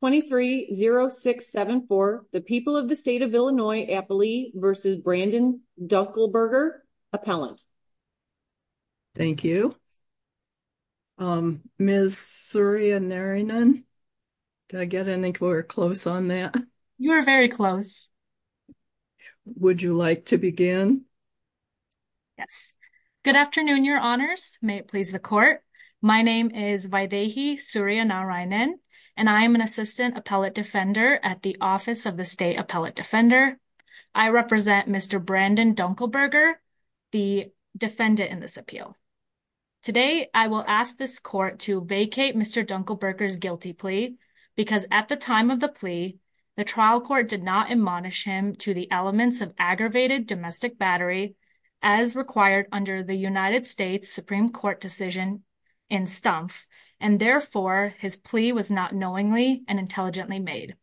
23 0674 the people of the state of illinois appley versus brandon dunkleberger appellant thank you um ms surya narayanan did i get any we're close on that you are very close would you like to begin yes good afternoon your honors may it please the court my name is vaidehi surya narayanan and i am an assistant appellate defender at the office of the state appellate defender i represent mr brandon dunkleberger the defendant in this appeal today i will ask this court to vacate mr dunkleberger's guilty plea because at the time of the plea the trial court did not admonish him to the elements of aggravated domestic battery as required under the united states supreme court decision in stump and therefore his plea was not knowingly and intelligently made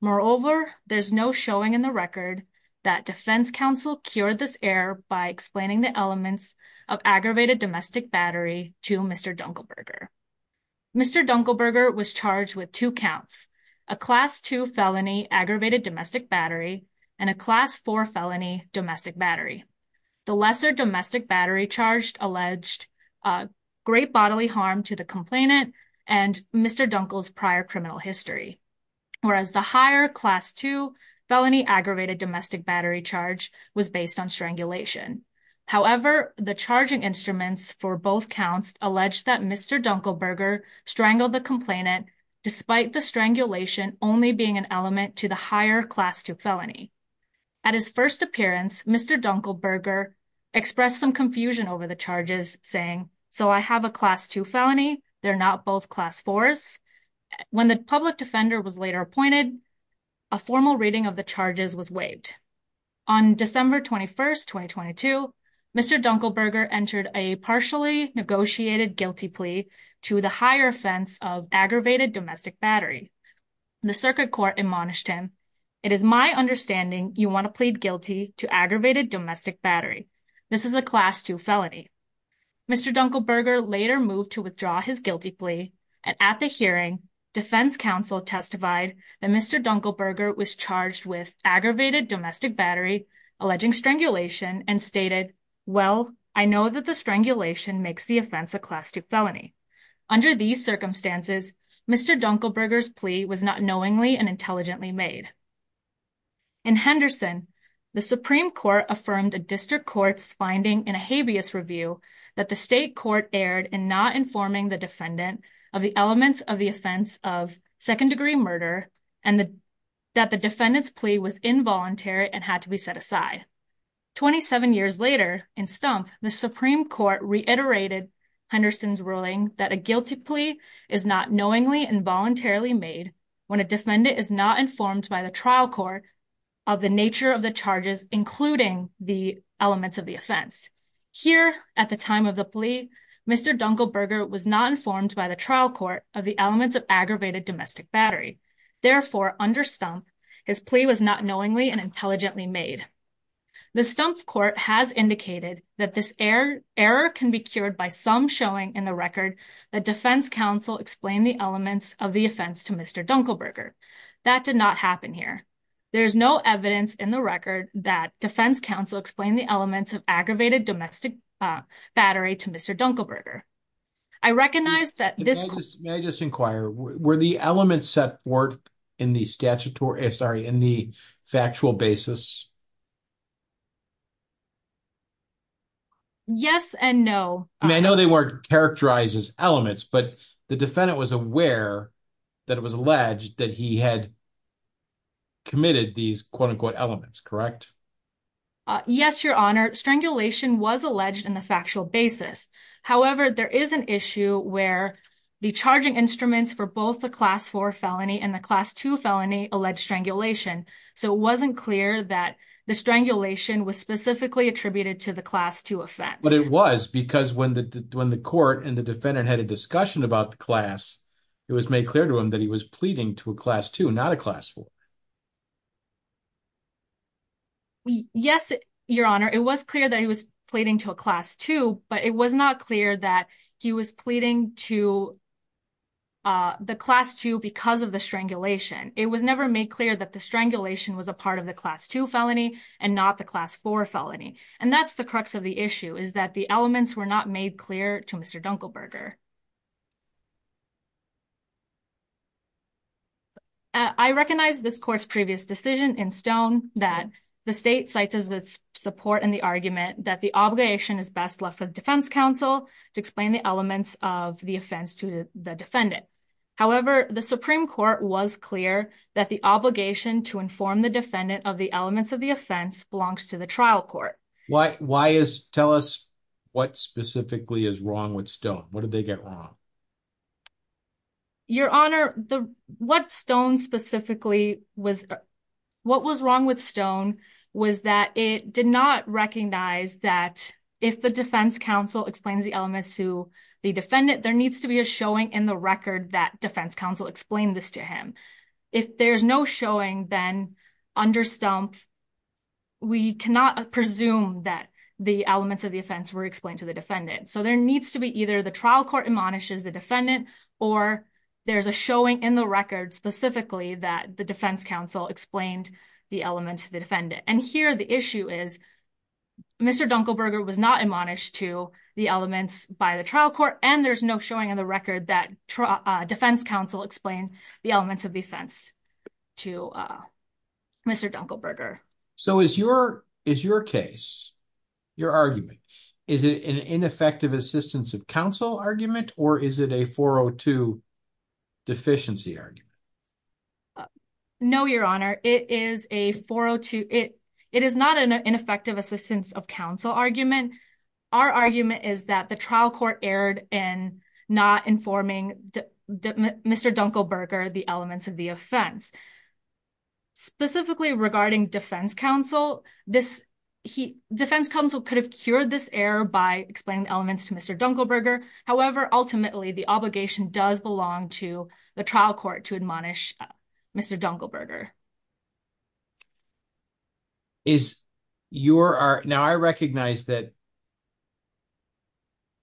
moreover there's no showing in the record that defense council cured this error by explaining the elements of aggravated domestic battery to mr dunkleberger mr dunkleberger was charged with two counts a class 2 felony aggravated domestic battery and a class 4 felony domestic battery the lesser domestic battery charged alleged great bodily harm to the complainant and mr dunkle's prior criminal history whereas the higher class 2 felony aggravated domestic battery charge was based on strangulation however the charging instruments for both counts alleged that mr dunkleberger strangled the complainant despite the strangulation only being an element to the higher class 2 felony at his first appearance mr dunkleberger expressed some confusion over the charges saying so i have a class 2 felony they're not both class 4s when the public defender was later appointed a formal reading of the charges was waived on december 21st 2022 mr dunkleberger entered a partially negotiated guilty plea to the higher aggravated domestic battery the circuit court admonished him it is my understanding you want to plead guilty to aggravated domestic battery this is a class 2 felony mr dunkleberger later moved to withdraw his guilty plea and at the hearing defense council testified that mr dunkleberger was charged with aggravated domestic battery alleging strangulation and stated well i know that the strangulation makes the offense a class 2 felony under these circumstances mr dunkleberger's plea was not knowingly and intelligently made in henderson the supreme court affirmed a district court's finding in a habeas review that the state court erred in not informing the defendant of the elements of the offense of second-degree murder and the that the defendant's plea was involuntary and had to be set aside 27 years later in stump the supreme court reiterated henderson's ruling that a guilty plea is not knowingly and voluntarily made when a defendant is not informed by the trial court of the nature of the charges including the elements of the offense here at the time of the plea mr dunkleberger was not informed by the trial court of the elements of aggravated domestic battery therefore under stump his plea was not knowingly and intelligently made the stump court has indicated that this error error can be cured by some showing in the record that defense council explained the elements of the offense to mr dunkleberger that did not happen here there is no evidence in the record that defense council explained the elements of aggravated domestic battery to mr dunkleberger i recognize that this may just inquire were the elements set forth in the statutory sorry in the factual basis yes and no i know they weren't characterized as elements but the defendant was aware that it was alleged that he had committed these quote-unquote elements correct yes your honor strangulation was alleged in the factual basis however there is an issue where the charging instruments for both the class 4 felony and the class 2 felony alleged strangulation so it wasn't clear that the strangulation was specifically attributed to the class 2 offense but it was because when the when the court and the defendant had a discussion about the class it was made clear to him that he was pleading to a class 2 not a class 4 yes your honor it was clear that he was pleading to a class 2 but it was not clear that he was pleading to uh the class 2 because of the strangulation it was never made clear that the strangulation was a part of the class 2 felony and not the class 4 felony and that's the crux of the issue is that the elements were not made clear to mr dunkleberger i recognize this court's previous decision in stone that the state cites as its support in the argument that the obligation is best left for the defense council to explain the elements of the offense to the defendant however the supreme court was clear that the obligation to inform the defendant of the elements of the offense belongs to the trial court what why is tell us what specifically is wrong with stone what did they get wrong your honor the what stone specifically was what was wrong with stone was that it did not recognize that if the defense council explains the elements to the defendant there needs to be a showing in the record that defense counsel explained this to him if there's no showing then under stump we cannot presume that the elements of the offense were explained to the defendant so there needs to be either the trial court admonishes the defendant or there's a showing in the record specifically that the defense council explained the elements of the defendant and here the issue is mr dunkleberger was not admonished to the elements by the trial court and there's no showing on the record that defense council explained the elements of defense to uh mr dunkleberger so is your is your case your argument is it an ineffective assistance of council argument or is it a 402 deficiency argument no your honor it is a 402 it it is not an ineffective assistance of council argument our argument is that the trial court erred in not informing mr dunkleberger the elements of the offense specifically regarding defense council this he defense council could have cured this error by explaining the elements to mr dunkleberger however ultimately the obligation does belong to the trial court to admonish mr dunkleberger is your art now i recognize that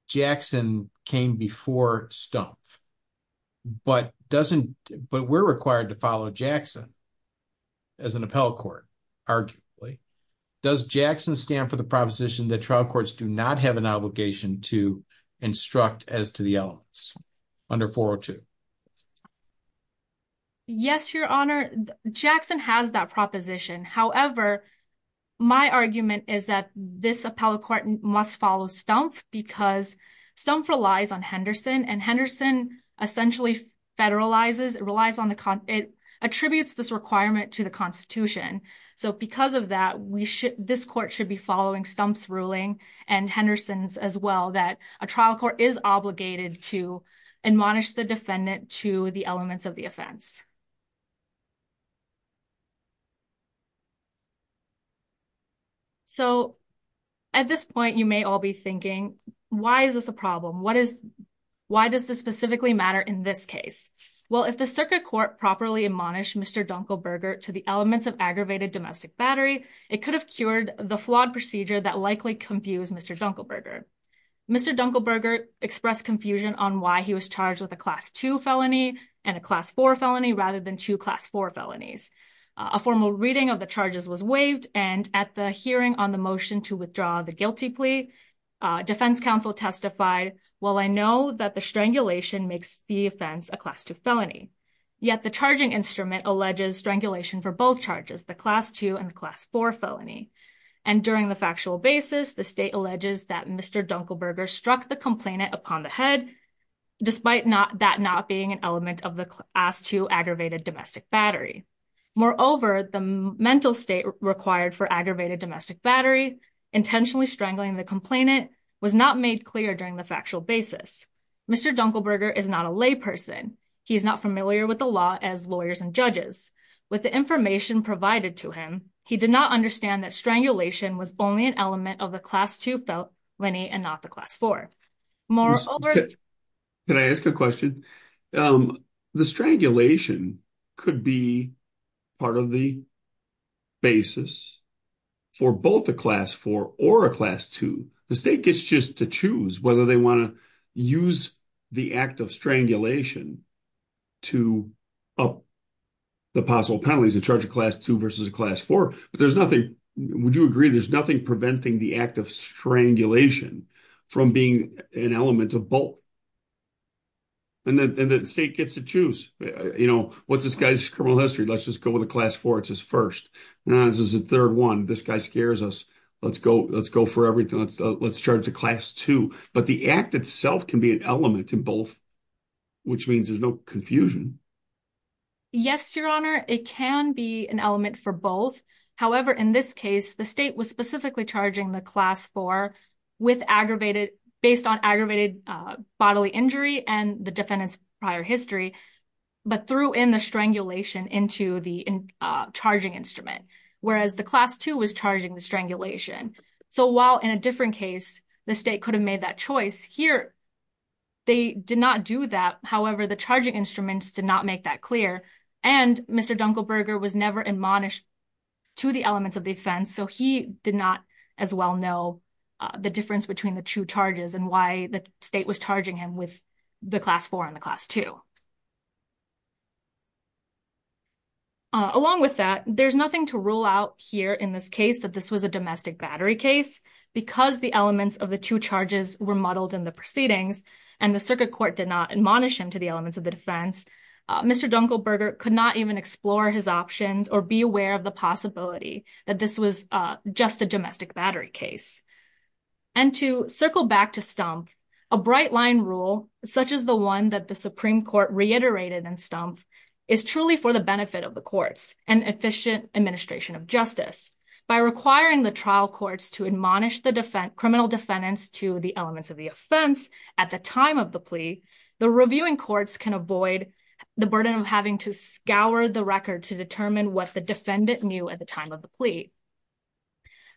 jackson came before stump but doesn't but we're required to follow jackson as an appellate court arguably does jackson stand for the proposition that trial courts do not have an obligation to instruct as to the elements under 402 yes your honor jackson has that proposition however my argument is that this appellate court must follow stump because stump relies on henderson and henderson essentially federalizes it relies on the con it attributes this requirement to the constitution so because of that we should this court should be following stump's ruling and henderson's as well that a trial court is obligated to admonish the defendant to the elements of the offense so at this point you may all be thinking why is this a problem what is why does this specifically matter in this case well if the circuit court properly admonished mr dunkleberger to the elements of aggravated domestic battery it could have cured the flawed procedure that likely confused mr dunkleberger mr dunkleberger expressed confusion on why he was charged with a class 2 felony and a class 4 felony rather than two class 4 felonies a formal reading of the charges was waived and at the hearing on the motion to withdraw the guilty plea defense council testified well i know that the strangulation makes the offense a class 2 felony yet the charging instrument alleges strangulation for both charges the class 2 and class 4 felony and during the factual basis the state alleges that mr dunkleberger struck the complainant upon the head despite not that not being an element of the class 2 aggravated domestic battery moreover the mental state required for aggravated domestic battery intentionally strangling the complainant was not made clear during the factual basis mr dunkleberger is not a lay person he's not familiar with the law as lawyers and judges with the information provided to him he did not understand that strangulation was only an element of the class 2 felony and not the class 4 moreover can i ask a question um the strangulation could be part of the basis for both a class 4 or a class 2 the state whether they want to use the act of strangulation to up the possible penalties in charge of class 2 versus class 4 but there's nothing would you agree there's nothing preventing the act of strangulation from being an element of both and then the state gets to choose you know what's this guy's criminal history let's just go with a class 4 it's his first now this is the third one this guy let's go let's go for everything let's let's charge the class 2 but the act itself can be an element in both which means there's no confusion yes your honor it can be an element for both however in this case the state was specifically charging the class 4 with aggravated based on aggravated bodily injury and the defendant's prior history but threw in the strangulation into the charging instrument whereas the class 2 was charging the strangulation so while in a different case the state could have made that choice here they did not do that however the charging instruments did not make that clear and mr dunkelberger was never admonished to the elements of the offense so he did not as well know the difference between the two charges and why the state was charging him with the class 4 and the class 2 along with that there's nothing to rule out here in this case that this was a domestic battery case because the elements of the two charges were muddled in the proceedings and the circuit court did not admonish him to the elements of the defense mr dunkelberger could not even explore his options or be aware of the possibility that this was uh just a domestic battery case and to circle back to stump a bright line rule such as the one that the supreme court reiterated in stump is truly for the benefit of the courts and efficient administration of justice by requiring the trial courts to admonish the defense criminal defendants to the elements of the offense at the time of the plea the reviewing courts can avoid the burden of having to scour the record to determine what the defendant knew at the time of the plea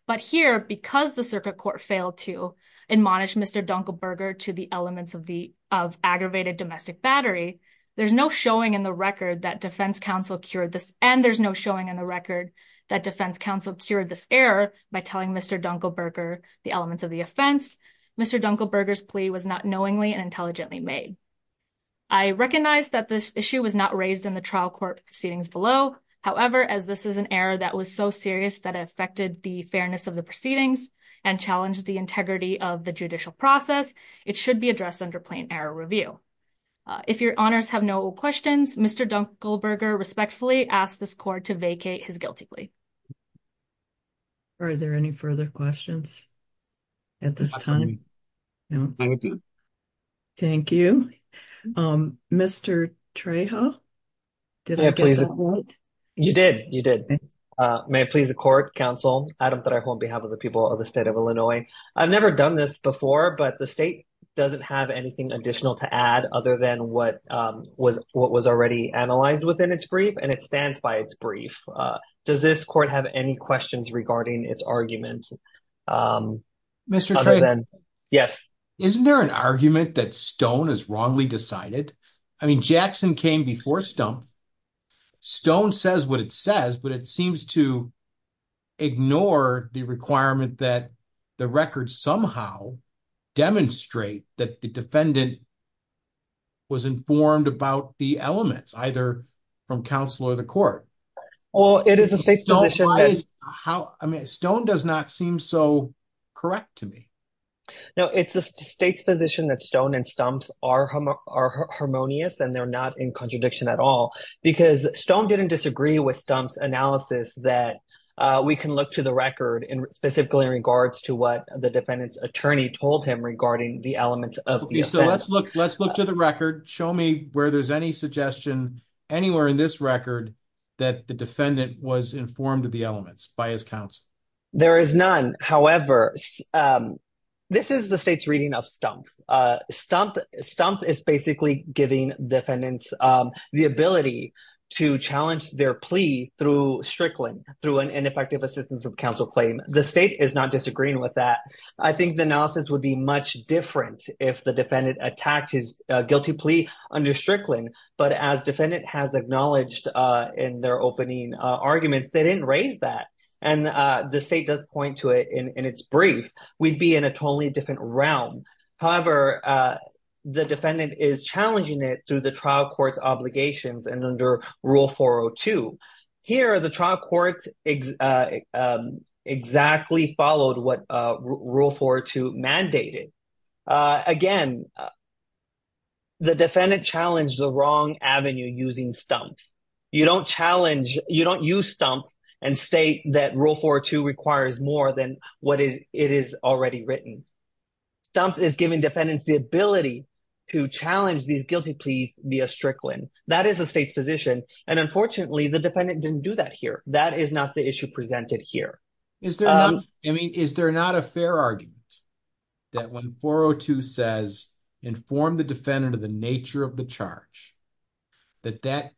but here because the circuit court failed to admonish mr dunkelberger to the elements of the of aggravated domestic battery there's no showing in the record that defense counsel cured this and there's no showing in the record that defense counsel cured this error by telling mr dunkelberger the elements of the offense mr dunkelberger's plea was not knowingly and intelligently made i recognize that this issue was not raised in the trial court proceedings below however as this is an error that was so serious that it affected the fairness of the proceedings and challenged the integrity of the judicial process it should be addressed under plain error review if your honors have no questions mr dunkelberger respectfully asked this court to vacate his guilty plea are there any further questions at this time thank you thank you um mr trejo did i please you did you did uh may it please the court counsel adam that i hold on behalf of the people of the state of illinois i've never done this before but the state doesn't have anything additional to add other than what um was what was already analyzed within its brief and it stands by its brief uh does this court have any questions regarding its arguments um mr other than yes isn't there an argument that stone is wrongly decided i mean jackson came before stump stone says what it says but it seems to ignore the requirement that the record somehow demonstrate that the defendant was informed about the elements either from counsel or the court well it is a state's position how i mean stone does not seem so correct to me no it's a state's position that stone and stumps are are harmonious and they're not in contradiction at all because stone didn't disagree with stump's analysis that uh we can look to the record in specifically in regards to what the defendant's attorney told him regarding the elements of okay so let's look let's look to the record show me where there's any suggestion anywhere in this record that the defendant was informed of the elements by his counsel there is none however um this is the state's reading of stump uh stump stump is basically giving defendants um the ability to challenge their plea through strickland through an effective assistance of counsel claim the state is not disagreeing with that i think the analysis would be much different if the defendant attacked his guilty plea under strickland but as defendant has acknowledged uh in their opening uh arguments they didn't raise that and uh the state does point to it in in its brief we'd be in a totally different realm however uh the defendant is challenging it through the trial court's obligations and under rule 402 here the trial court exactly followed what uh rule 4-2 mandated uh again the defendant challenged the wrong avenue using stump you don't challenge you don't use stump and state that rule 4-2 requires more than what it is already written stump is giving defendants the ability to challenge these guilty pleas via strickland that is the state's position and unfortunately the defendant didn't do that here that is not the issue presented here is there i mean is there not a fair argument that when 402 says inform the defendant of the nature of the charge that that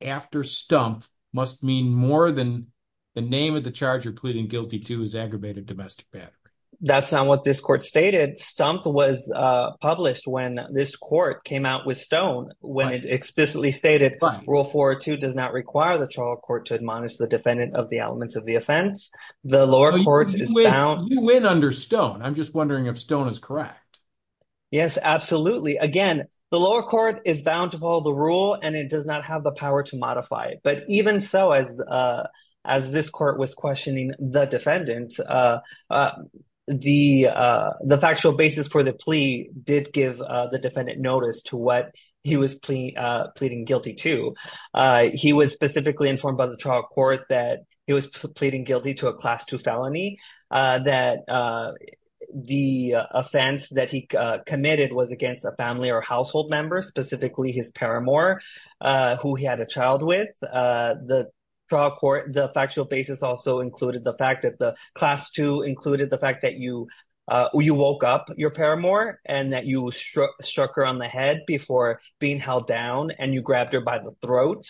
after stump must mean more than the name of the charge you're pleading guilty to is aggravated domestic battery that's not what this court stated stump was uh published when this court came out with stone when it explicitly stated rule 402 does not require the trial court to admonish the defendant of the elements of the offense the lower court is down you win under stone i'm just wondering if stone is correct yes absolutely again the lower court is bound to follow the rule and it does not have the power to modify it but even so as uh as this court was questioning the defendant uh uh the uh the factual basis for the plea did give uh the defendant notice to what he was pleading uh pleading guilty to uh he was specifically informed by the trial court that he was pleading guilty to a class 2 felony uh that uh the offense that he uh committed was against a family or household member specifically his paramour uh who he had a child with uh the trial court the factual basis also included the fact that the class 2 included the fact that you uh you woke up your paramour and that you struck her on the head before being held down and you grabbed her by the throat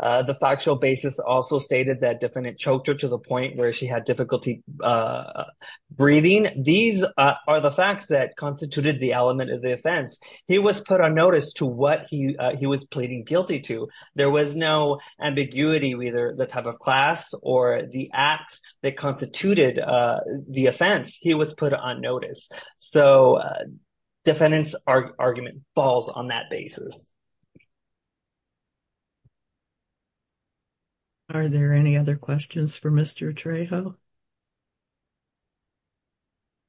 uh the factual basis also stated that defendant choked her to the point where she had difficulty uh breathing these are the facts that constituted the element of the offense he was put on notice to what he uh he was pleading guilty to there was no ambiguity either the type of class or the acts that constituted uh the offense he was put on notice so defendant's argument falls on that basis are there any other questions for mr trejo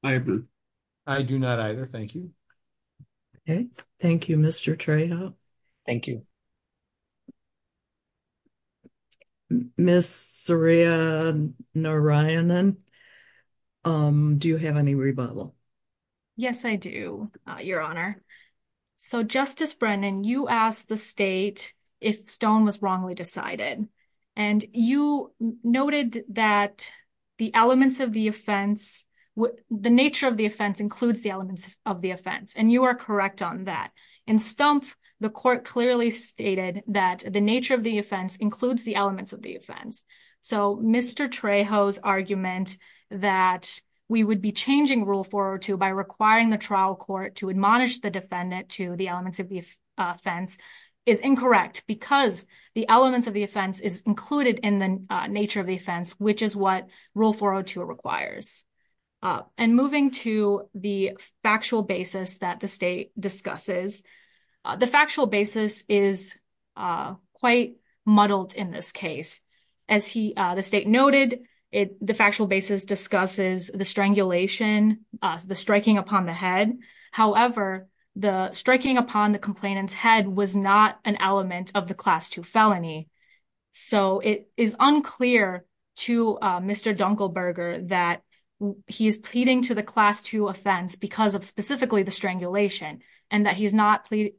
i agree i do not either thank you okay thank you mr trejo thank you miss saria narayanan um do you have any rebuttal yes i do uh your honor so justice brendan you asked the state if stone was wrongly decided and you noted that the elements of the offense the nature of the offense includes the elements of the offense and you are correct on that and stump the court clearly stated that the nature of the offense includes the elements of the offense so mr trejo's argument that we would be changing rule 402 by requiring the trial court to admonish the defendant to the elements of the offense is incorrect because the elements of the offense is included in the nature of the offense which is what rule 402 uh and moving to the factual basis that the state discusses the factual basis is uh quite muddled in this case as he uh the state noted it the factual basis discusses the strangulation uh the striking upon the head however the striking upon the complainant's head was not an element of the that he is pleading to the class two offense because of specifically the strangulation and that he's not pleading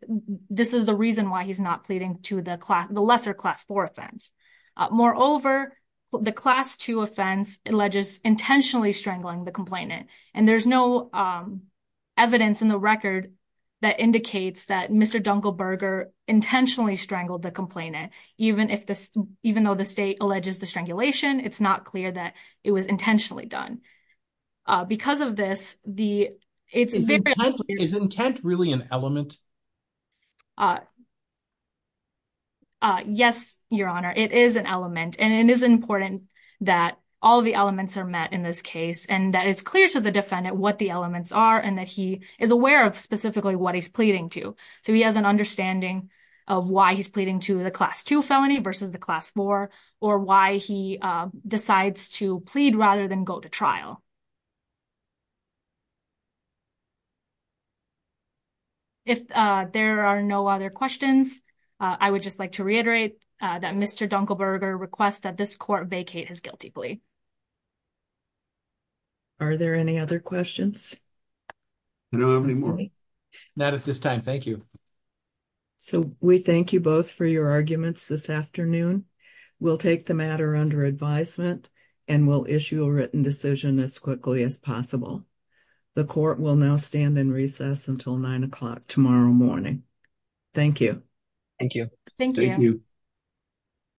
this is the reason why he's not pleading to the class the lesser class four offense moreover the class two offense alleges intentionally strangling the complainant and there's no um evidence in the record that indicates that mr dunkelberger intentionally strangled the complainant even if this even though the state alleges the strangulation it's not clear that it was intentionally done uh because of this the it's intent is intent really an element uh uh yes your honor it is an element and it is important that all the elements are met in this case and that it's clear to the defendant what the elements are and that he is aware of specifically what he's pleading to so he has an understanding of why he's pleading to the class two felony versus the class four or why he decides to plead rather than go to trial if uh there are no other questions i would just like to reiterate that mr dunkelberger requests that this court vacate his guilty plea are there any other questions no not at this time thank you so we thank you both for your arguments this afternoon we'll take the matter under advisement and we'll issue a written decision as quickly as possible the court will now stand in recess until nine o'clock tomorrow morning thank you thank you thank you